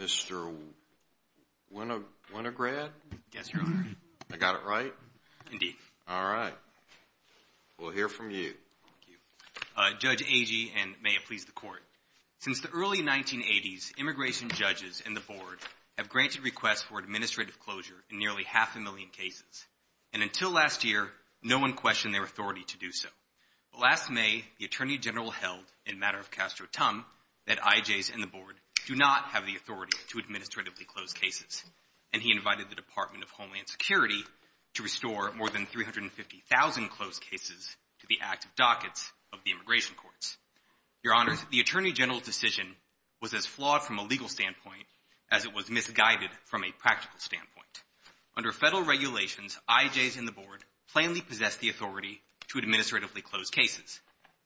Mr. Winograd? Yes, Your Honor. I got it right? Indeed. All right. We'll hear from you. Judge Agee, and may it please the Court. Since the early 1980s, immigration judges and the Board have granted requests for administrative closure in nearly half a million cases. And until last year, no one questioned their authority to do so. But last May, the Attorney General held, in matter of Castro-Tum, that IJs and the Board do not have the authority to administratively close cases. And he invited the Department of Homeland Security to restore more than 350,000 closed cases to the active dockets of the immigration courts. Your Honor, the Attorney General's decision was as flawed from a legal standpoint as it was misguided from a practical standpoint. Under Federal regulations, IJs and the Board plainly possess the authority to administratively close cases.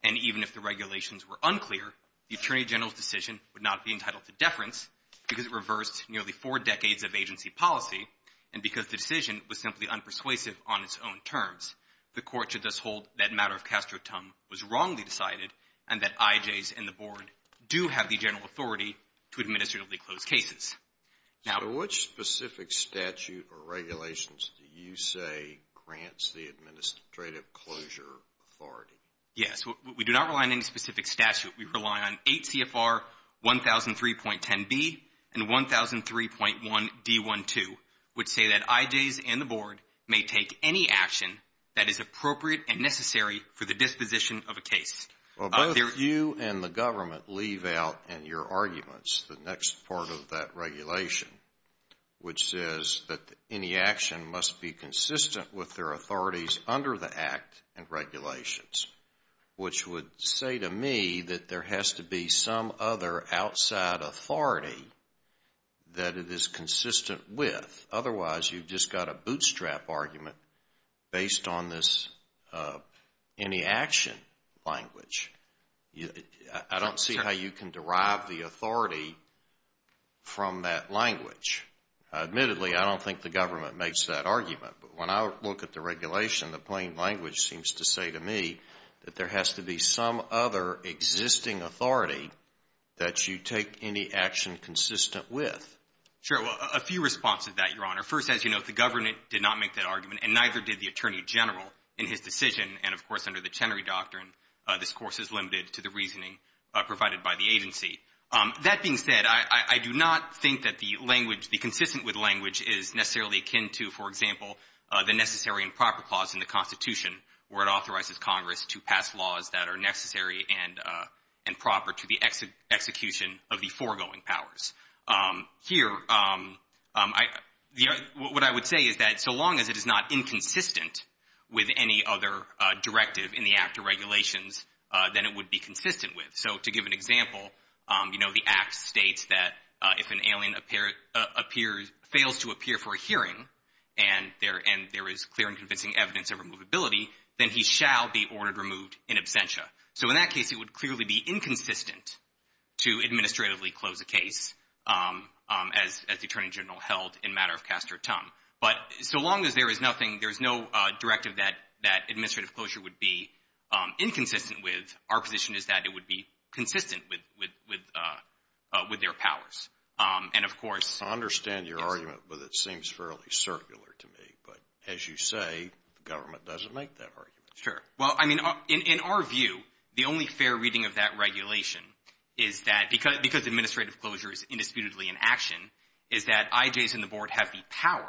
And even if the regulations were unclear, the Attorney General's decision would not be entitled to deference because it reversed nearly four decades of agency policy, and because the decision was simply unpersuasive on its own terms. The Court should thus hold that matter of Castro-Tum was wrongly decided and that IJs and the Board do have the general authority to administratively close cases. So which specific statute or regulations do you say grants the administrative closure authority? Yes. We do not rely on any specific statute. We rely on 8 CFR 1003.10b and 1003.1d12, which say that IJs and the Board may take any action that is appropriate and necessary for the disposition of a case. Well, both you and the government leave out in your arguments the next part of that regulation, which says that any action must be consistent with their authorities under the Act and regulations, which would say to me that there has to be some other outside authority that it is consistent with. Otherwise, you've just got a bootstrap argument based on this any action language. I don't see how you can derive the authority from that language. Admittedly, I don't think the government makes that argument, but when I look at the regulation, the plain language seems to say to me that there has to be some other existing authority that you take any action consistent with. Sure. Well, a few responses to that, Your Honor. First, as you note, the government did not make that argument and neither did the Attorney General in his decision. And, of course, under the Chenery Doctrine, this course is limited to the reasoning provided by the agency. That being said, I do not think that the language, the consistent with language is necessarily akin to, for example, the necessary and proper clause in the Constitution where it authorizes Congress to pass laws that are necessary and proper to the execution of the foregoing powers. Here, what I would say is that so long as it is not inconsistent with any other directive in the Act of Regulations, then it would be consistent with. So to give an example, the Act states that if an alien fails to appear for a hearing and there is clear and convincing evidence of removability, then he shall be ordered removed in absentia. So in that case, it would clearly be inconsistent to administratively close a case, as the Attorney General held in matter of cast or tongue. But so long as there is nothing, there is no directive that administrative closure would be inconsistent with, our position is that it would be consistent with their powers. And, of course – I understand your argument, but it seems fairly circular to me. But as you say, the government doesn't make that argument. Sure. Well, I mean, in our view, the only fair reading of that regulation is that because administrative closure is indisputably in action, is that IJs and the Board have the power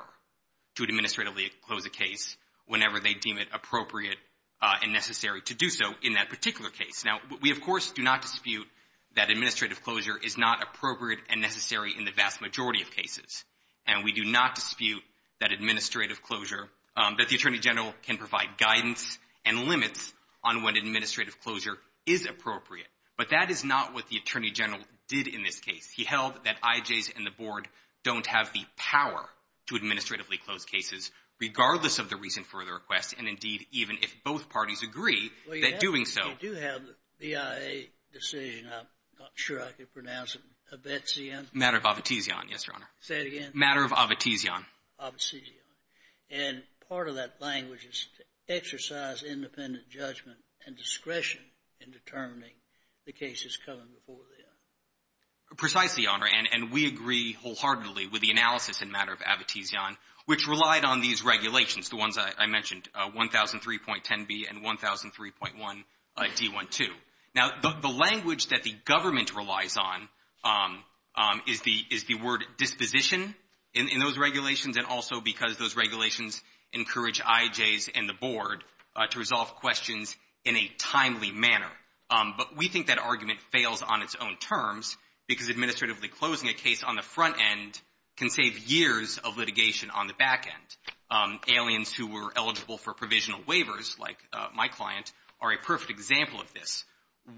to administratively close a case whenever they deem it appropriate and necessary to do so in that particular case. Now, we, of course, do not dispute that administrative closure is not appropriate and necessary in the vast majority of cases. And we do not dispute that administrative closure – that the Attorney General can provide guidance and limits on when administrative closure is appropriate. But that is not what the Attorney General did in this case. He held that IJs and the Board don't have the power to administratively close cases, regardless of the reason for the request, and, indeed, even if both parties agree that doing so – Well, you do have the BIA decision. I'm not sure I can pronounce it. Matter of abetezion. Matter of abetezion, yes, Your Honor. Say it again. Matter of abetezion. Abetezion. And part of that language is to exercise independent judgment and discretion in determining the cases coming before them. Precisely, Your Honor. And we agree wholeheartedly with the analysis in matter of abetezion, which relied on these regulations, the ones I mentioned, 1003.10b and 1003.1d12. Now, the language that the government relies on is the word disposition in those regulations and also because those regulations encourage IJs and the Board to resolve questions in a timely manner. But we think that argument fails on its own terms because administratively closing a case on the front end can save years of litigation on the back end. Aliens who were eligible for provisional waivers, like my client, are a perfect example of this.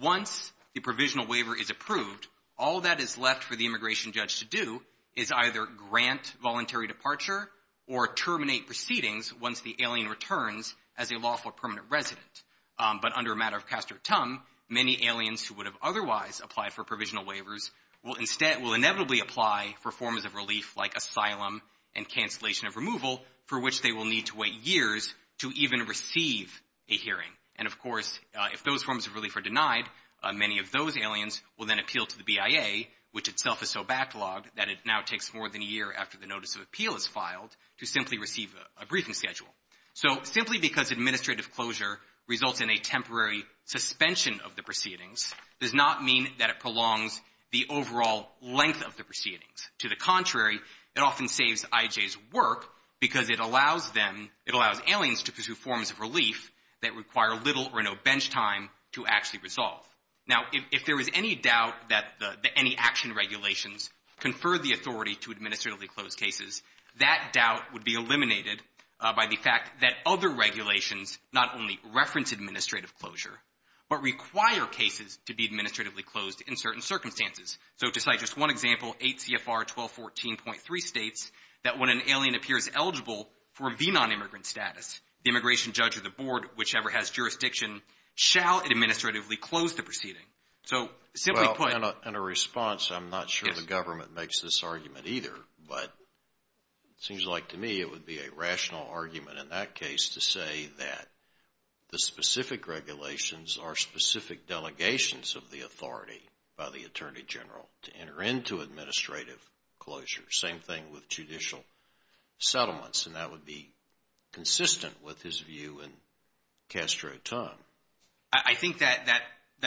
Once the provisional waiver is approved, all that is left for the immigration judge to do is either grant voluntary departure or terminate proceedings once the alien returns as a lawful permanent resident. But under a matter of castor tum, many aliens who would have otherwise applied for provisional waivers will inevitably apply for forms of relief, like asylum and cancellation of removal, for which they will need to wait years to even receive a hearing. And, of course, if those forms of relief are denied, many of those aliens will then appeal to the BIA, which itself is so backlogged that it now takes more than a year after the notice of appeal is filed to simply receive a briefing schedule. So simply because administrative closure results in a temporary suspension of the proceedings does not mean that it prolongs the overall length of the proceedings. To the contrary, it often saves IJ's work because it allows aliens to pursue forms of relief that require little or no bench time to actually resolve. Now, if there is any doubt that any action regulations confer the authority to administratively close cases, that doubt would be eliminated by the fact that other regulations not only reference administrative closure but require cases to be administratively closed in certain circumstances. So to cite just one example, 8 CFR 1214.3 states that when an alien appears eligible for a B-nonimmigrant status, the immigration judge or the board, whichever has jurisdiction, shall administratively close the proceeding. So simply put— Well, in a response, I'm not sure the government makes this argument either, but it seems like to me it would be a rational argument in that case to say that the specific regulations are specific delegations of the authority by the Attorney General to enter into administrative closure. Same thing with judicial settlements, and that would be consistent with his view in Castro-Ton. I think that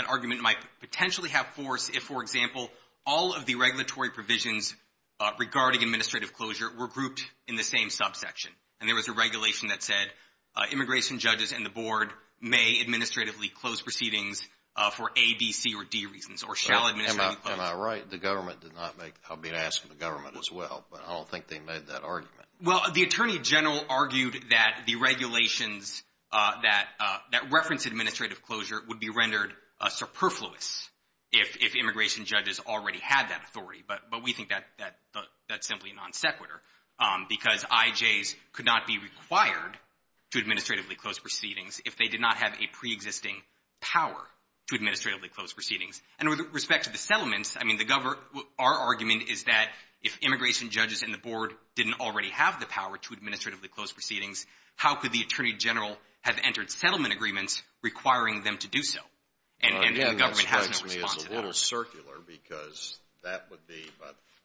argument might potentially have force if, for example, all of the regulatory provisions regarding administrative closure were grouped in the same subsection, and there was a regulation that said immigration judges and the board may administratively close proceedings for A, B, C, or D reasons or shall administratively close. Am I right? The government did not make—I'll be asking the government as well, but I don't think they made that argument. Well, the Attorney General argued that the regulations that reference administrative closure would be rendered superfluous if immigration judges already had that authority, but we think that that's simply a non sequitur because IJs could not be required to administratively close proceedings if they did not have a preexisting power to administratively close proceedings. And with respect to the settlements, I mean, our argument is that if immigration judges and the board didn't already have the power to administratively close proceedings, how could the Attorney General have entered settlement agreements requiring them to do so? I mean, that strikes me as a little circular because that would be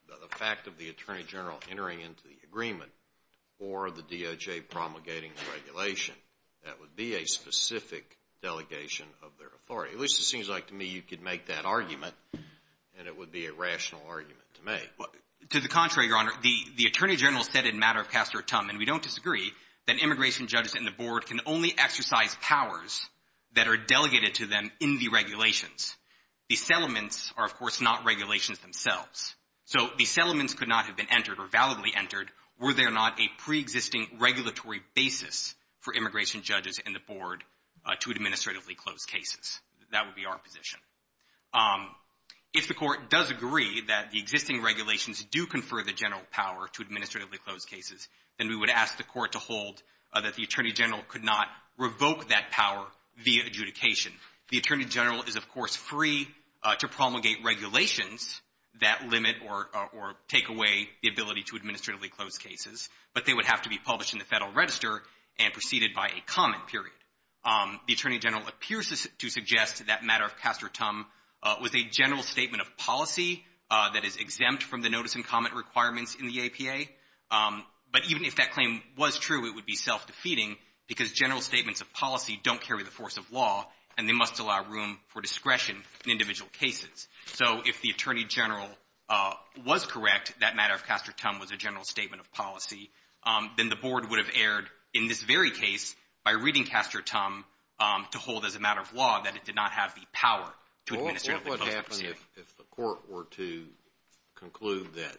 the fact of the Attorney General entering into the agreement or the DOJ promulgating the regulation. That would be a specific delegation of their authority. At least it seems like to me you could make that argument, and it would be a rational argument to make. To the contrary, Your Honor, the Attorney General said in matter of Castor Tum, and we don't disagree, that immigration judges and the board can only exercise powers that are delegated to them in the regulations. The settlements are, of course, not regulations themselves. So the settlements could not have been entered or validly entered were there not a preexisting regulatory basis for immigration judges and the board to administratively close cases. That would be our position. If the Court does agree that the existing regulations do confer the general power to administratively close cases, then we would ask the Court to hold that the Attorney General could not revoke that power via adjudication. The Attorney General is, of course, free to promulgate regulations that limit or take away the ability to administratively close cases, but they would have to be published in the Federal Register and preceded by a comment period. The Attorney General appears to suggest that matter of Castor Tum was a general statement of policy that is exempt from the notice and comment requirements in the APA. But even if that claim was true, it would be self-defeating because general statements of policy don't carry the force of law, and they must allow room for discretion in individual cases. So if the Attorney General was correct that matter of Castor Tum was a general statement of policy, then the board would have erred in this very case by reading Castor Tum to hold as a matter of law that it did not have the power to administratively close the proceeding. If the Court were to conclude that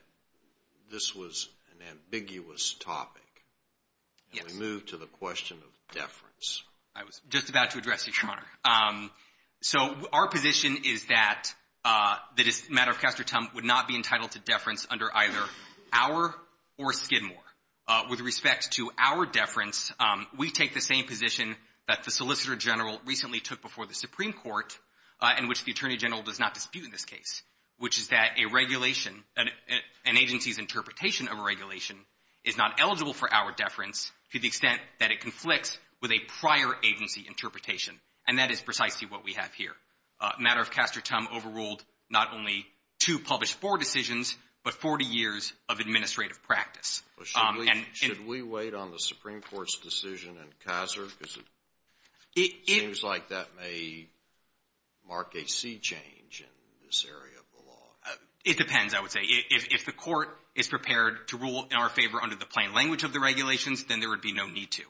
this was an ambiguous topic, can we move to the question of deference? I was just about to address you, Your Honor. So our position is that this matter of Castor Tum would not be entitled to deference under either our or Skidmore. With respect to our deference, we take the same position that the Solicitor General does not dispute in this case, which is that a regulation, an agency's interpretation of a regulation is not eligible for our deference to the extent that it conflicts with a prior agency interpretation. And that is precisely what we have here. A matter of Castor Tum overruled not only two published board decisions, but 40 years of administrative practice. Should we wait on the Supreme Court's decision in Kaiser? Because it seems like that may mark a sea change in this area of the law. It depends, I would say. If the Court is prepared to rule in our favor under the plain language of the regulations, then there would be no need to.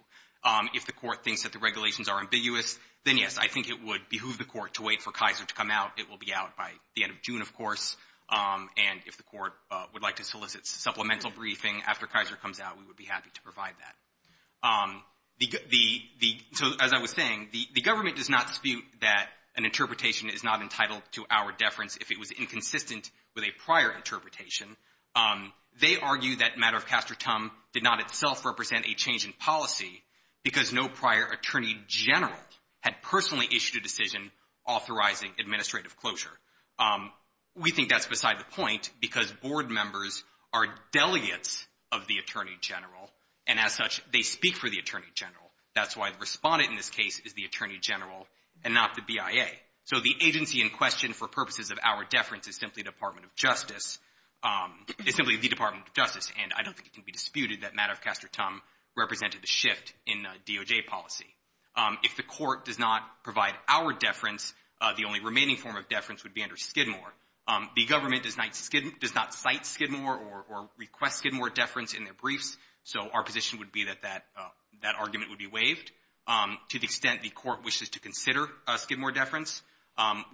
If the Court thinks that the regulations are ambiguous, then, yes, I think it would behoove the Court to wait for Kaiser to come out. It will be out by the end of June, of course. And if the Court would like to solicit supplemental briefing after Kaiser comes out, we would be happy to provide that. The — so as I was saying, the government does not dispute that an interpretation is not entitled to our deference if it was inconsistent with a prior interpretation. They argue that matter of Castor Tum did not itself represent a change in policy because no prior attorney general had personally issued a decision authorizing administrative closure. We think that's beside the point because board members are delegates of the attorney general, and as such, they speak for the attorney general. That's why the respondent in this case is the attorney general and not the BIA. So the agency in question for purposes of our deference is simply the Department of Justice, and I don't think it can be disputed that matter of Castor Tum represented a shift in DOJ policy. If the Court does not provide our deference, the only remaining form of deference would be under Skidmore. The government does not cite Skidmore or request Skidmore deference in their briefs, so our position would be that that argument would be waived. To the extent the Court wishes to consider Skidmore deference,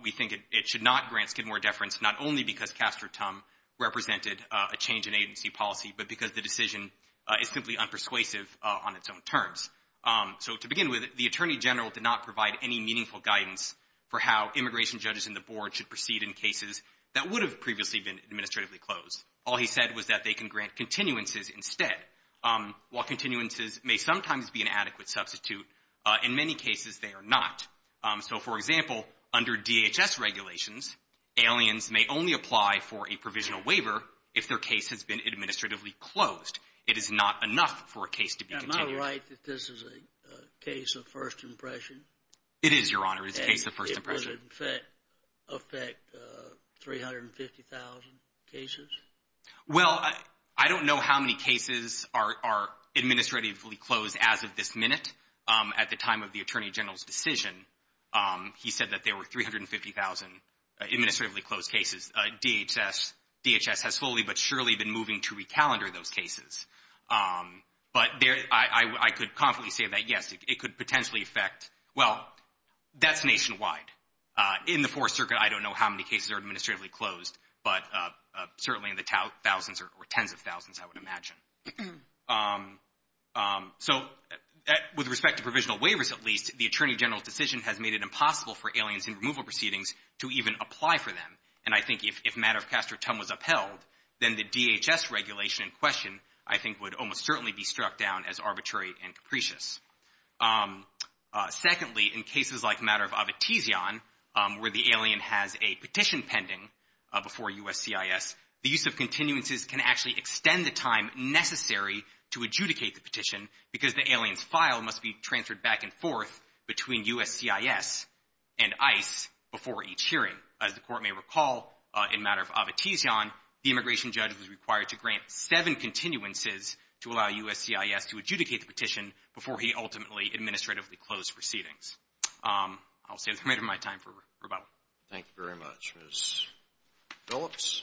we think it should not grant Skidmore deference, not only because Castor Tum represented a change in agency policy but because the decision is simply unpersuasive on its own terms. So to begin with, the attorney general did not provide any meaningful guidance for how immigration judges and the board should proceed in cases that would have previously been administratively closed. All he said was that they can grant continuances instead. While continuances may sometimes be an adequate substitute, in many cases they are not. So, for example, under DHS regulations, aliens may only apply for a provisional waiver if their case has been administratively closed. It is not enough for a case to be continued. Am I right that this is a case of first impression? It is, Your Honor. It is a case of first impression. And it would, in fact, affect 350,000 cases? Well, I don't know how many cases are administratively closed as of this minute. At the time of the attorney general's decision, he said that there were 350,000 administratively closed cases. DHS has slowly but surely been moving to recalendar those cases. But I could confidently say that, yes, it could potentially affect, well, that's nationwide. In the Fourth Circuit, I don't know how many cases are administratively closed, but certainly in the thousands or tens of thousands, I would imagine. So, with respect to provisional waivers, at least, the attorney general's decision has made it impossible for aliens in removal proceedings to even apply for them. And I think if Matter of Castor Tum was upheld, then the DHS regulation in question, I think, would almost certainly be struck down as arbitrary and capricious. Secondly, in cases like Matter of Avitesion, where the alien has a petition pending before USCIS, the use of continuances can actually extend the time necessary to adjudicate the petition because the alien's file must be transferred back and forth between USCIS and ICE before each hearing, as the recall in Matter of Avitesion, the immigration judge was required to grant seven continuances to allow USCIS to adjudicate the petition before he ultimately administratively closed proceedings. I'll say that's the end of my time for rebuttal. Thank you very much, Ms. Phillips.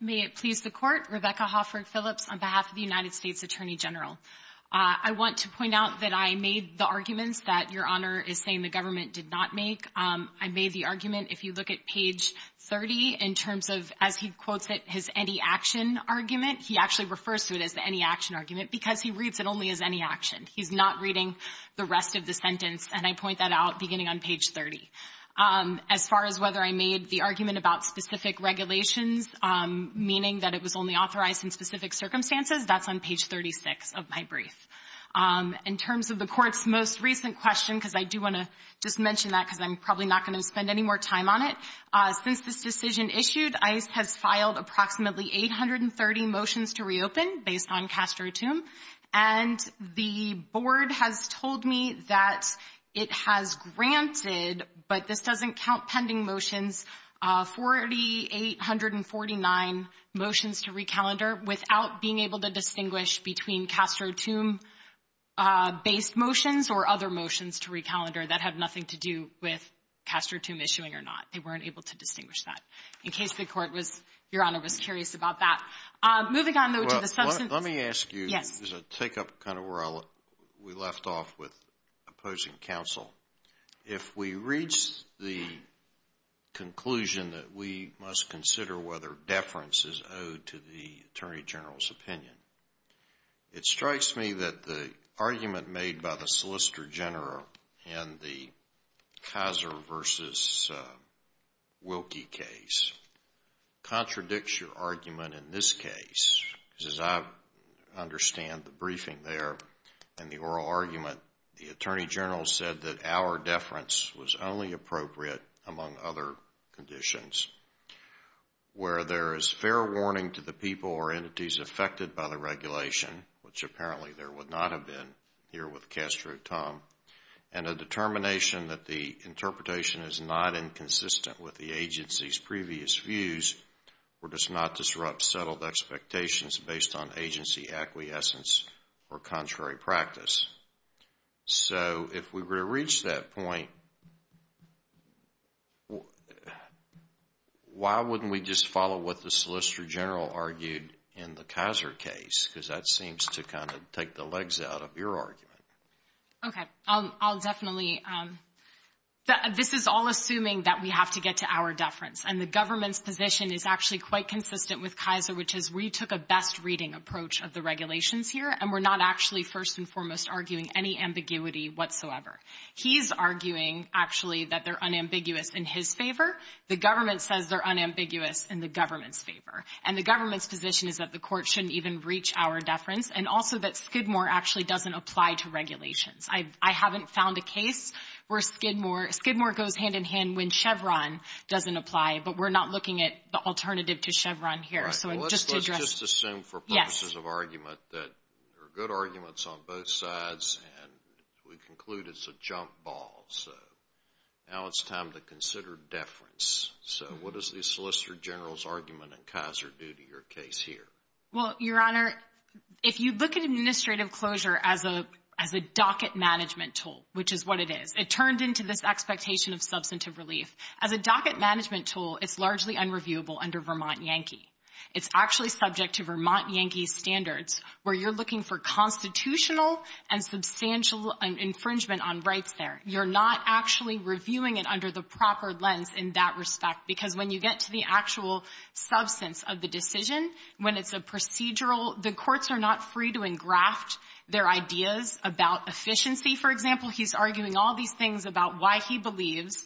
May it please the Court, Rebecca Hoffert Phillips on behalf of the United States Department of Justice. I want to point out that I made the arguments that Your Honor is saying the government did not make. I made the argument, if you look at page 30, in terms of, as he quotes it, his any action argument. He actually refers to it as the any action argument because he reads it only as any action. He's not reading the rest of the sentence, and I point that out beginning on page 30. As far as whether I made the argument about specific regulations, meaning that it was only authorized in specific circumstances, that's on page 36 of my brief. In terms of the Court's most recent question, because I do want to just mention that because I'm probably not going to spend any more time on it. Since this decision issued, ICE has filed approximately 830 motions to reopen based on Castro-Toome, and the Board has told me that it has granted, but this doesn't count pending motions, 4,849 motions to recalendar without being able to distinguish between Castro-Toome-based motions or other motions to recalendar that have nothing to do with Castro-Toome issuing or not. They weren't able to distinguish that. In case the Court was, Your Honor, was curious about that. Moving on, though, to the substance. Let me ask you. Yes. There's a take-up kind of where we left off with opposing counsel. If we reach the conclusion that we must consider whether deference is owed to the Attorney General's opinion, it strikes me that the argument made by the Solicitor General in the Kaiser v. Wilkie case contradicts your argument in this case, because as I understand the briefing there and the oral argument, the Attorney General said that our deference was only appropriate among other conditions where there is fair warning to the people or entities affected by the regulation, which apparently there would not have been here with Castro-Toome, and a determination that the interpretation is not inconsistent with the agency's previous views or does not disrupt settled expectations based on agency acquiescence or contrary practice. So if we were to reach that point, why wouldn't we just follow what the Solicitor General argued in the Kaiser case? Because that seems to kind of take the legs out of your argument. Okay. I'll definitely. This is all assuming that we have to get to our deference, and the government's position is actually quite consistent with Kaiser, which is we took a best reading approach of the regulations here, and we're not actually first and foremost arguing any ambiguity whatsoever. He's arguing, actually, that they're unambiguous in his favor. The government says they're unambiguous in the government's favor. And the government's position is that the court shouldn't even reach our deference, and also that Skidmore actually doesn't apply to regulations. I haven't found a case where Skidmore goes hand-in-hand when Chevron doesn't apply, but we're not looking at the alternative to Chevron here. Right. Well, let's just assume for purposes of argument that there are good arguments on both sides, and we conclude it's a jump ball. So now it's time to consider deference. So what does the Solicitor General's argument in Kaiser do to your case here? Well, Your Honor, if you look at administrative closure as a docket management tool, which is what it is, it turned into this expectation of substantive relief. As a docket management tool, it's largely unreviewable under Vermont Yankee. It's actually subject to Vermont Yankee standards, where you're looking for constitutional and substantial infringement on rights there. You're not actually reviewing it under the proper lens in that respect, because when you get to the actual substance of the decision, when it's a procedural the courts are not free to engraft their ideas about efficiency. For example, he's arguing all these things about why he believes,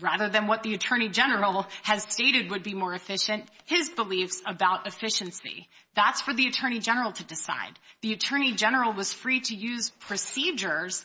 rather than what the Attorney General has stated would be more efficient, his beliefs about efficiency. That's for the Attorney General to decide. The Attorney General was free to use procedures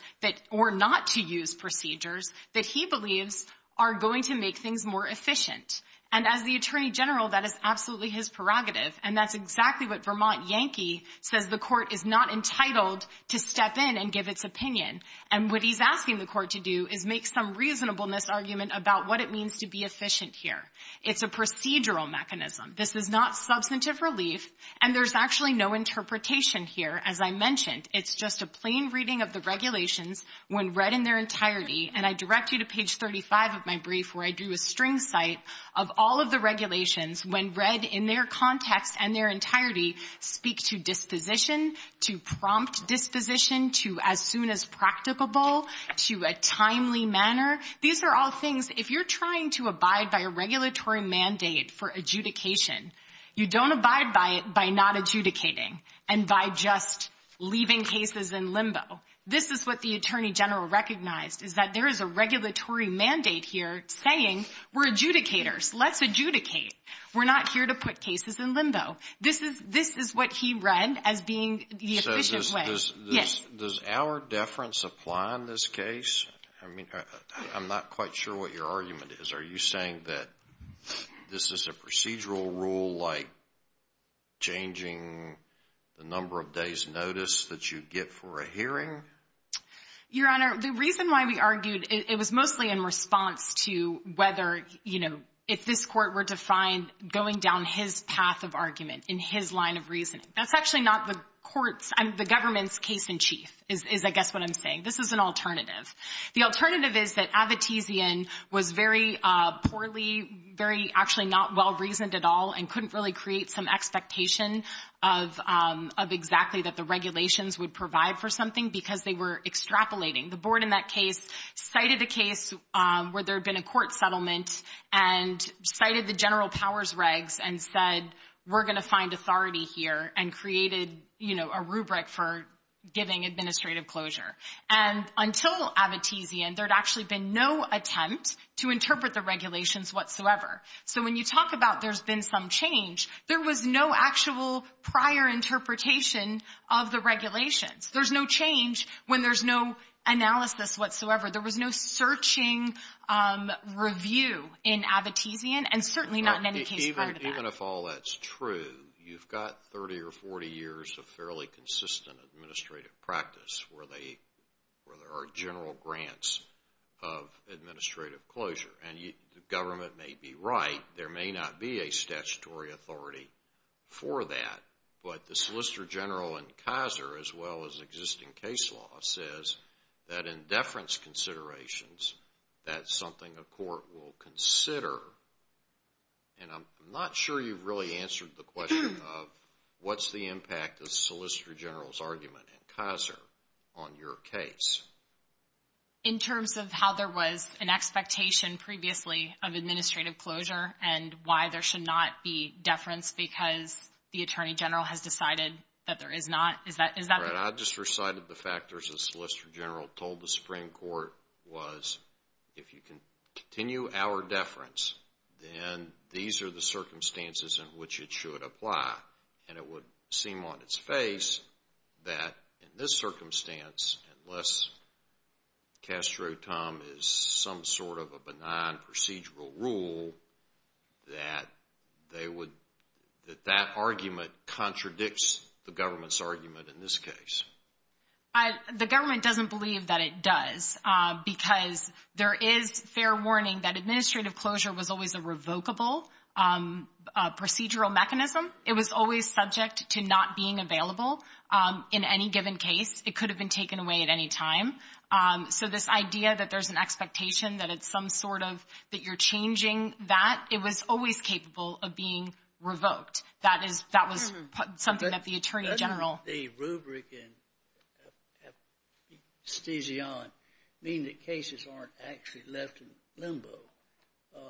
or not to use procedures that he believes are going to make things more efficient. And as the Attorney General, that is absolutely his prerogative. And that's exactly what Vermont Yankee says the court is not entitled to step in and give its opinion. And what he's asking the court to do is make some reasonableness argument about what it means to be efficient here. It's a procedural mechanism. This is not substantive relief. And there's actually no interpretation here, as I mentioned. It's just a plain reading of the regulations when read in their entirety. And I direct you to page 35 of my brief where I do a string cite of all of the regulations when read in their context and their entirety speak to disposition, to prompt disposition, to as soon as practicable, to a timely manner. These are all things, if you're trying to abide by a regulatory mandate for adjudication, you don't abide by it by not adjudicating and by just leaving cases in limbo. This is what the Attorney General recognized, is that there is a regulatory mandate here saying we're adjudicators, let's adjudicate. We're not here to put cases in limbo. This is what he read as being the efficient way. So does our deference apply in this case? I mean, I'm not quite sure what your argument is. Are you saying that this is a procedural rule like changing the number of days notice that you get for a hearing? Your Honor, the reason why we argued, it was mostly in response to whether, you know, if this court were to find going down his path of argument, in his line of reasoning. That's actually not the government's case in chief, is I guess what I'm saying. This is an alternative. The alternative is that Avitesian was very poorly, very actually not well-reasoned at all and couldn't really create some expectation of exactly that the regulations would provide for something because they were extrapolating. The board in that case cited a case where there had been a court settlement and cited the general powers regs and said we're going to find authority here and created, you know, a rubric for giving administrative closure. And until Avitesian, there had actually been no attempt to interpret the regulations whatsoever. So when you talk about there's been some change, there was no actual prior interpretation of the regulations. There's no change when there's no analysis whatsoever. There was no searching review in Avitesian, and certainly not in any case prior to that. Even if all that's true, you've got 30 or 40 years of fairly consistent administrative practice where there are general grants of administrative closure. And the government may be right. There may not be a statutory authority for that. But the Solicitor General in Kaiser, as well as existing case law, says that in deference considerations, that's something a court will consider. And I'm not sure you've really answered the question of what's the impact of the Solicitor General's argument in Kaiser on your case. In terms of how there was an expectation previously of administrative closure and why there should not be deference because the Attorney General has decided that there is not, is that correct? I just recited the factors the Solicitor General told the Supreme Court was, if you can continue our deference, then these are the circumstances in which it should apply. And it would seem on its face that in this circumstance, unless Castro-Tum is some sort of a benign procedural rule, that that argument contradicts the government's argument in this case. The government doesn't believe that it does because there is fair warning that administrative closure was always a revocable procedural mechanism. It was always subject to not being available in any given case. It could have been taken away at any time. So this idea that there's an expectation that it's some sort of that you're changing that, it was always capable of being revoked. That was something that the Attorney General. Doesn't the rubric in abstizion mean that cases aren't actually left in limbo?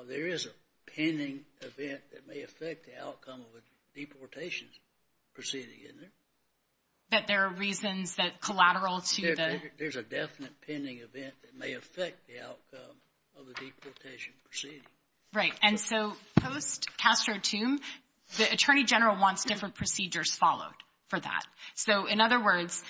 There is a pending event that may affect the outcome of a deportation proceeding, isn't there? That there are reasons that collateral to the- There's a definite pending event that may affect the outcome of a deportation proceeding. Right, and so post-Castro-Tum, the Attorney General wants different procedures followed for that. So in other words,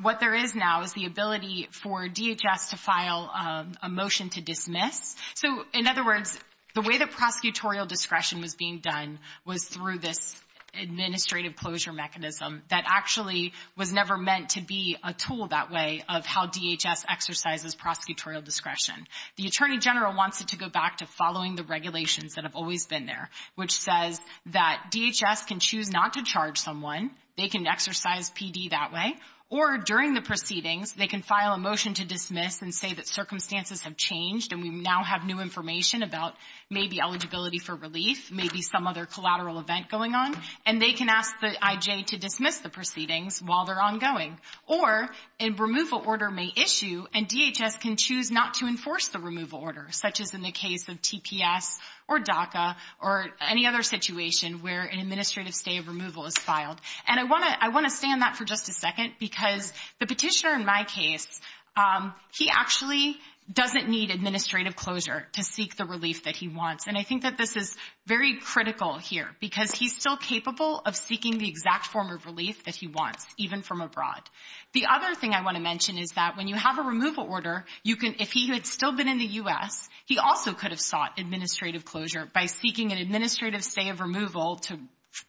what there is now is the ability for DHS to file a motion to dismiss. So in other words, the way that prosecutorial discretion was being done was through this administrative closure mechanism that actually was never meant to be a tool that way of how DHS exercises prosecutorial discretion. The Attorney General wants it to go back to following the regulations that have always been there, which says that DHS can choose not to charge someone. They can exercise PD that way. Or during the proceedings, they can file a motion to dismiss and say that circumstances have changed and we now have new information about maybe eligibility for relief, maybe some other collateral event going on, and they can ask the IJ to dismiss the proceedings while they're ongoing. Or a removal order may issue and DHS can choose not to enforce the removal order, such as in the case of TPS or DACA or any other situation where an administrative stay of removal is filed. And I want to stay on that for just a second because the petitioner in my case, he actually doesn't need administrative closure to seek the relief that he wants. And I think that this is very critical here because he's still capable of seeking the exact form of relief that he wants, even from abroad. The other thing I want to mention is that when you have a removal order, if he had still been in the U.S., he also could have sought administrative closure by seeking an administrative stay of removal to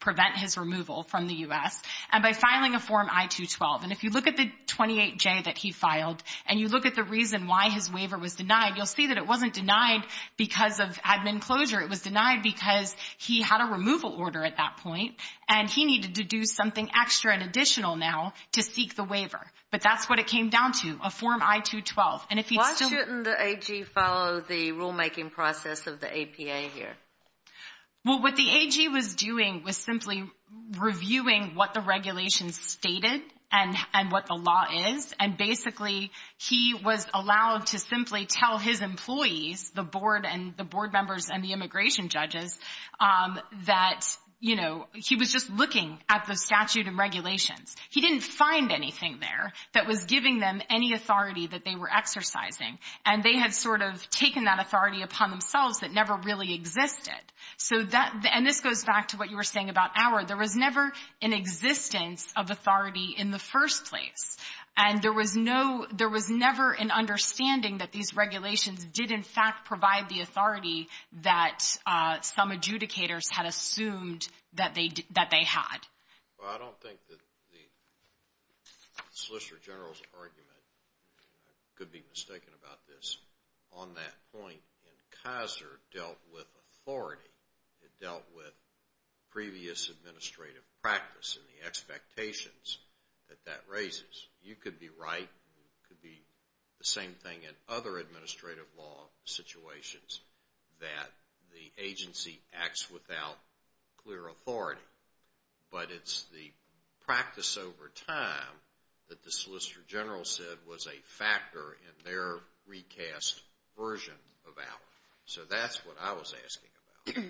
prevent his removal from the U.S. and by filing a Form I-212. And if you look at the 28J that he filed and you look at the reason why his waiver was denied, you'll see that it wasn't denied because of admin closure. It was denied because he had a removal order at that point and he needed to do something extra and additional now to seek the waiver. But that's what it came down to, a Form I-212. Why shouldn't the AG follow the rulemaking process of the APA here? Well, what the AG was doing was simply reviewing what the regulations stated and what the law is, and basically he was allowed to simply tell his employees, the board and the board members and the immigration judges, that he was just looking at the statute and regulations. He didn't find anything there that was giving them any authority that they were exercising, and they had sort of taken that authority upon themselves that never really existed. And this goes back to what you were saying about Auer. There was never an existence of authority in the first place, and there was never an understanding that these regulations did in fact provide the authority that some adjudicators had assumed that they had. Well, I don't think that the Solicitor General's argument, and I could be mistaken about this, on that point in Kaiser dealt with authority. It dealt with previous administrative practice and the expectations that that raises. You could be right. It could be the same thing in other administrative law situations that the agency acts without clear authority, but it's the practice over time that the Solicitor General said was a factor in their recast version of Auer. So that's what I was asking about.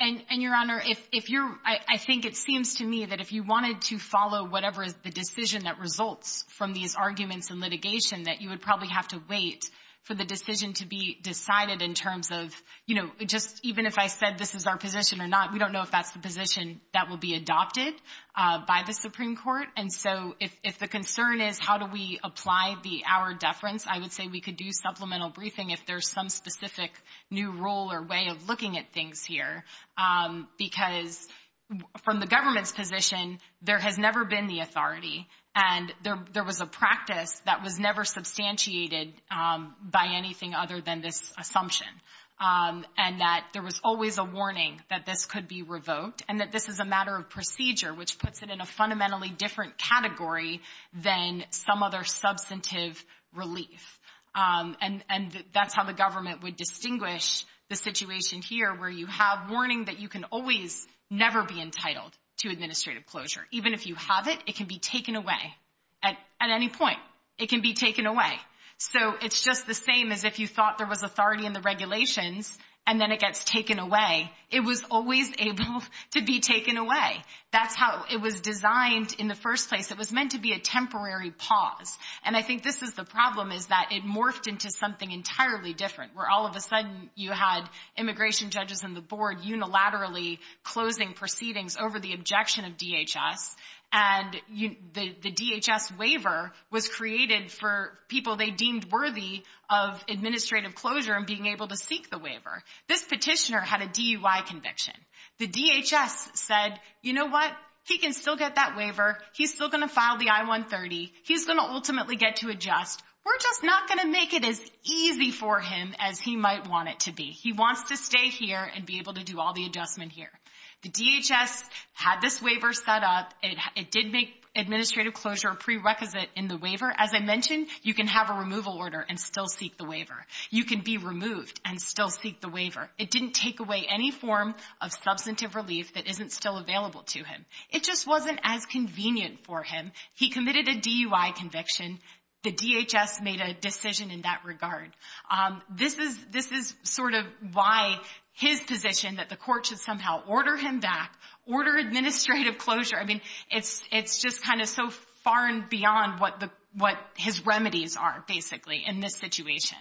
And, Your Honor, I think it seems to me that if you wanted to follow whatever is the decision that results from these arguments and litigation, that you would probably have to wait for the decision to be decided in terms of, you know, just even if I said this is our position or not, we don't know if that's the position that will be adopted by the Supreme Court. And so if the concern is how do we apply the Auer deference, I would say we could do supplemental briefing if there's some specific new rule or way of looking at things here. Because from the government's position, there has never been the authority, and there was a practice that was never substantiated by anything other than this assumption, and that there was always a warning that this could be revoked and that this is a matter of procedure, which puts it in a fundamentally different category than some other substantive relief. And that's how the government would distinguish the situation here where you have warning that you can always never be entitled to administrative closure. Even if you have it, it can be taken away at any point. It can be taken away. So it's just the same as if you thought there was authority in the regulations and then it gets taken away. It was always able to be taken away. That's how it was designed in the first place. It was meant to be a temporary pause. And I think this is the problem, is that it morphed into something entirely different, where all of a sudden you had immigration judges on the board unilaterally closing proceedings over the objection of DHS, and the DHS waiver was created for people they deemed worthy of administrative closure and being able to seek the waiver. This petitioner had a DUI conviction. The DHS said, you know what, he can still get that waiver. He's still going to file the I-130. He's going to ultimately get to adjust. We're just not going to make it as easy for him as he might want it to be. He wants to stay here and be able to do all the adjustment here. The DHS had this waiver set up. It did make administrative closure a prerequisite in the waiver. As I mentioned, you can have a removal order and still seek the waiver. You can be removed and still seek the waiver. It didn't take away any form of substantive relief that isn't still available to him. It just wasn't as convenient for him. He committed a DUI conviction. The DHS made a decision in that regard. This is sort of why his position, that the court should somehow order him back, order administrative closure. I mean, it's just kind of so far and beyond what his remedies are, basically, in this situation.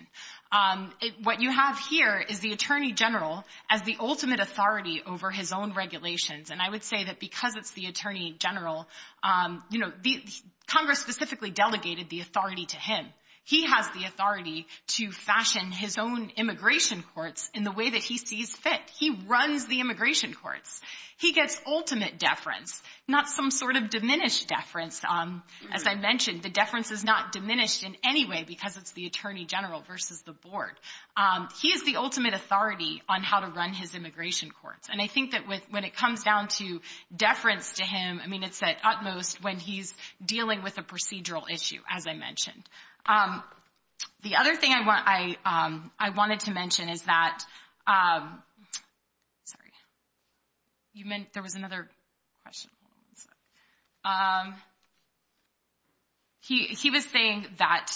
What you have here is the Attorney General as the ultimate authority over his own regulations. And I would say that because it's the Attorney General, Congress specifically delegated the authority to him. He has the authority to fashion his own immigration courts in the way that he sees fit. He runs the immigration courts. He gets ultimate deference, not some sort of diminished deference. As I mentioned, the deference is not diminished in any way because it's the Attorney General versus the board. He is the ultimate authority on how to run his immigration courts. And I think that when it comes down to deference to him, I mean, it's at utmost when he's dealing with a procedural issue, as I mentioned. The other thing I wanted to mention is that – sorry. You meant there was another question? He was saying that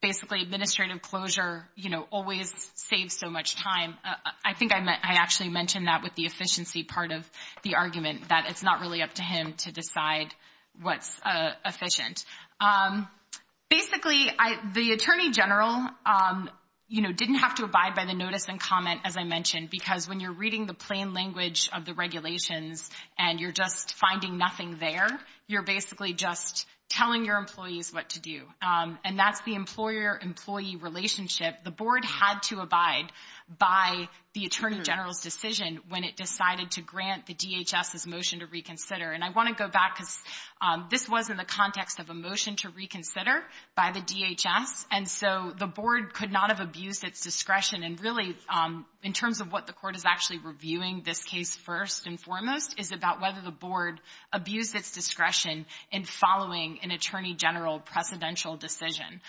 basically administrative closure, you know, always saves so much time. I think I actually mentioned that with the efficiency part of the argument, that it's not really up to him to decide what's efficient. Basically, the Attorney General, you know, didn't have to abide by the notice and comment, as I mentioned, because when you're reading the plain language of the regulations and you're just finding nothing there, you're basically just telling your employees what to do. And that's the employer-employee relationship. The board had to abide by the Attorney General's decision when it decided to grant the DHS's motion to reconsider. And I want to go back because this was in the context of a motion to reconsider by the DHS, and so the board could not have abused its discretion. And really, in terms of what the court is actually reviewing this case first and foremost is about whether the board abused its discretion in following an Attorney General precedential decision.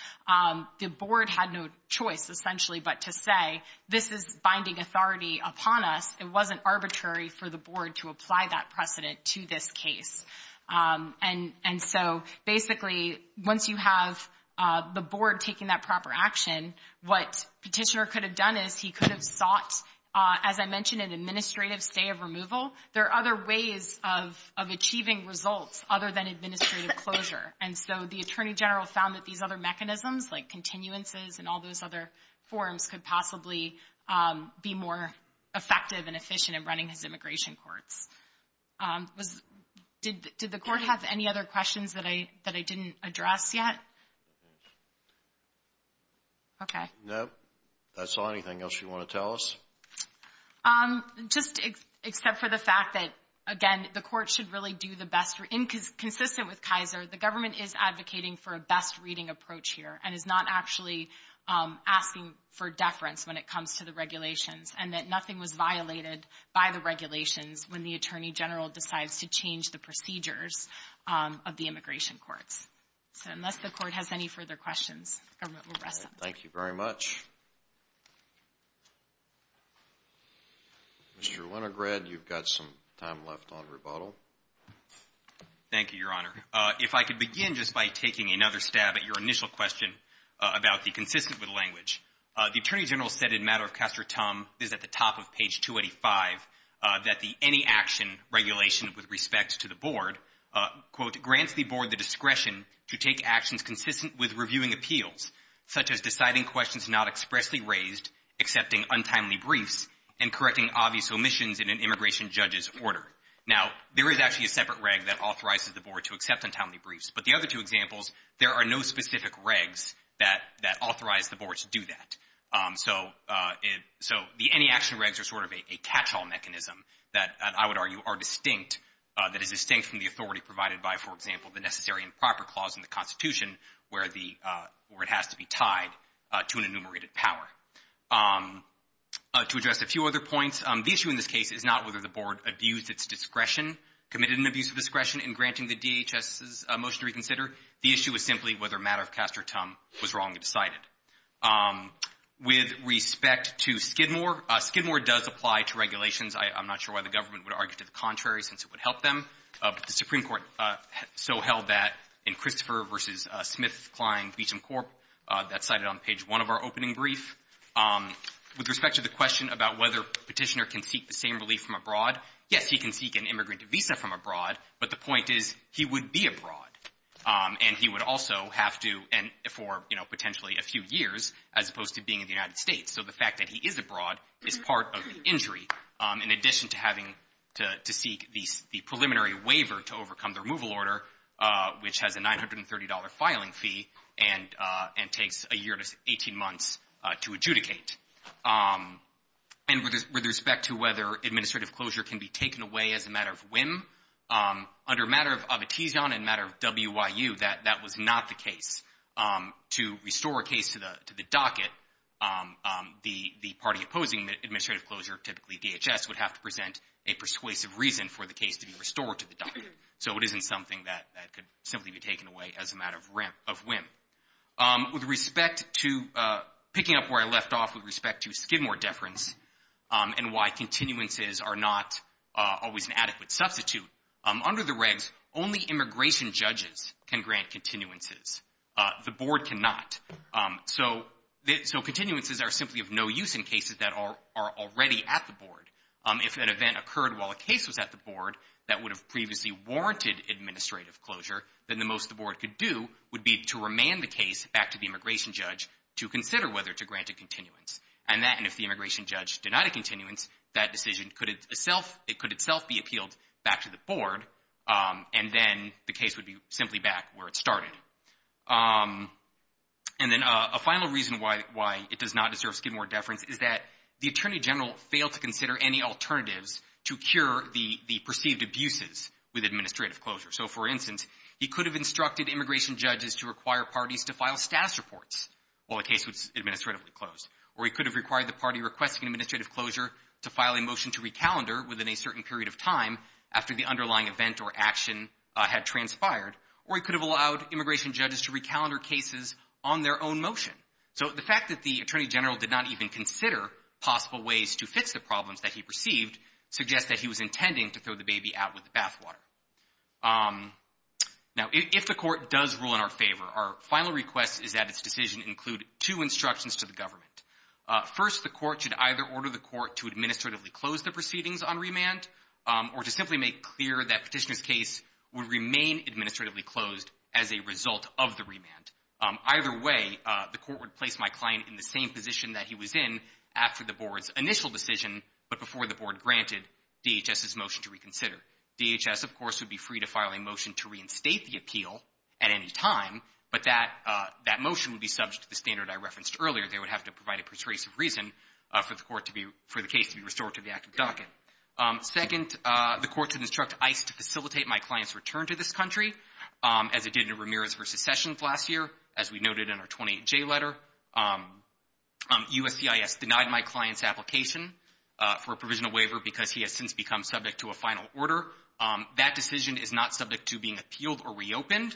The board had no choice, essentially, but to say, this is binding authority upon us. It wasn't arbitrary for the board to apply that precedent to this case. And so basically, once you have the board taking that proper action, what Petitioner could have done is he could have sought, as I mentioned, an administrative stay of removal. There are other ways of achieving results other than administrative closure. And so the Attorney General found that these other mechanisms, like continuances and all those other forms, could possibly be more effective and efficient in running his immigration courts. Did the court have any other questions that I didn't address yet? Okay. No. I saw anything else you want to tell us. Just except for the fact that, again, the court should really do the best. Consistent with Kaiser, the government is advocating for a best reading approach here and is not actually asking for deference when it comes to the regulations and that nothing was violated by the regulations when the Attorney General decides to change the procedures of the immigration courts. So unless the court has any further questions, the government will rest. Thank you very much. Mr. Winograd, you've got some time left on rebuttal. Thank you, Your Honor. If I could begin just by taking another stab at your initial question about the The Attorney General said in Matter of Castor Tum, this is at the top of page 285, that the any action regulation with respect to the board, Now, there is actually a separate reg that authorizes the board to accept untimely briefs. But the other two examples, there are no specific regs that authorize the board to do that. So the any action regs are sort of a catch-all mechanism that I would argue are distinct, that is distinct from the authority provided by, for example, the Necessary and Proper Clause in the Constitution, where it has to be tied to an enumerated power. To address a few other points, the issue in this case is not whether the board abused its discretion, committed an abuse of discretion in granting the DHS's motion to reconsider. The issue is simply whether Matter of Castor Tum was wrong to decide it. With respect to Skidmore, Skidmore does apply to regulations. I'm not sure why the government would argue to the contrary, since it would help them. But the Supreme Court so held that in Christopher v. Smith, Klein, Beecham Corp. That's cited on page one of our opening brief. With respect to the question about whether Petitioner can seek the same relief from abroad, yes, he can seek an immigrant visa from abroad, but the point is he would be abroad, and he would also have to for, you know, potentially a few years as opposed to being in the United States. So the fact that he is abroad is part of the injury, in addition to having to seek the preliminary waiver to overcome the removal order, which has a $930 filing fee and takes a year to 18 months to adjudicate. And with respect to whether administrative closure can be taken away as a matter of whim, under Matter of Abitision and Matter of WIU, that was not the case. To restore a case to the docket, the party opposing administrative closure, typically DHS, would have to present a persuasive reason for the case to be restored to the docket. So it isn't something that could simply be taken away as a matter of whim. With respect to picking up where I left off with respect to Skidmore deference and why continuances are not always an adequate substitute, under the regs, only immigration judges can grant continuances. The board cannot. So continuances are simply of no use in cases that are already at the board. If an event occurred while a case was at the board that would have previously warranted administrative closure, then the most the board could do would be to remand the case back to the immigration judge to consider whether to grant a continuance. And if the immigration judge denied a continuance, that decision could itself be appealed back to the board, and then the case would be simply back where it started. And then a final reason why it does not deserve Skidmore deference is that the attorney general failed to consider any alternatives to cure the perceived abuses with administrative closure. So, for instance, he could have instructed immigration judges to require parties to file status reports while a case was administratively closed, or he could have required the party requesting administrative closure to file a motion to recalendar within a certain period of time after the underlying event or action had transpired, or he could have allowed immigration judges to recalendar cases on their own motion. So the fact that the attorney general did not even consider possible ways to fix the problems that he perceived suggests that he was intending to throw the baby out with the bathwater. Now, if the court does rule in our favor, our final request is that its decision include two instructions to the government. First, the court should either order the court to administratively close the proceedings on remand or to simply make clear that petitioner's case would remain administratively closed as a result of the remand. Either way, the court would place my client in the same position that he was in after the board's initial decision, but before the board granted DHS's motion to reconsider. DHS, of course, would be free to file a motion to reinstate the appeal at any time, but that motion would be subject to the standard I referenced earlier. They would have to provide a persuasive reason for the case to be restored to the active docket. Second, the court should instruct ICE to facilitate my client's return to this country, as it did in Ramirez v. Sessions last year, as we noted in our 28J letter. USCIS denied my client's application for a provisional waiver because he has since become subject to a final order. That decision is not subject to being appealed or reopened,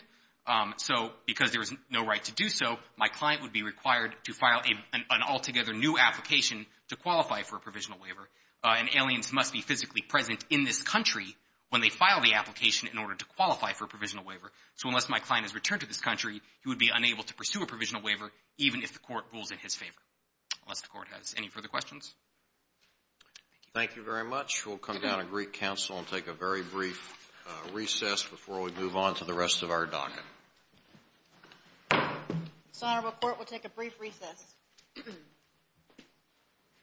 so because there is no right to do so, my client would be required to file an altogether new application to qualify for a provisional waiver. And aliens must be physically present in this country when they file the application in order to qualify for a provisional waiver. So unless my client is returned to this country, he would be unable to pursue a provisional waiver even if the court rules in his favor, unless the court has any further questions. Thank you. Thank you very much. We'll come down and greet counsel and take a very brief recess before we move on to the rest of our docket. This honorable court will take a brief recess.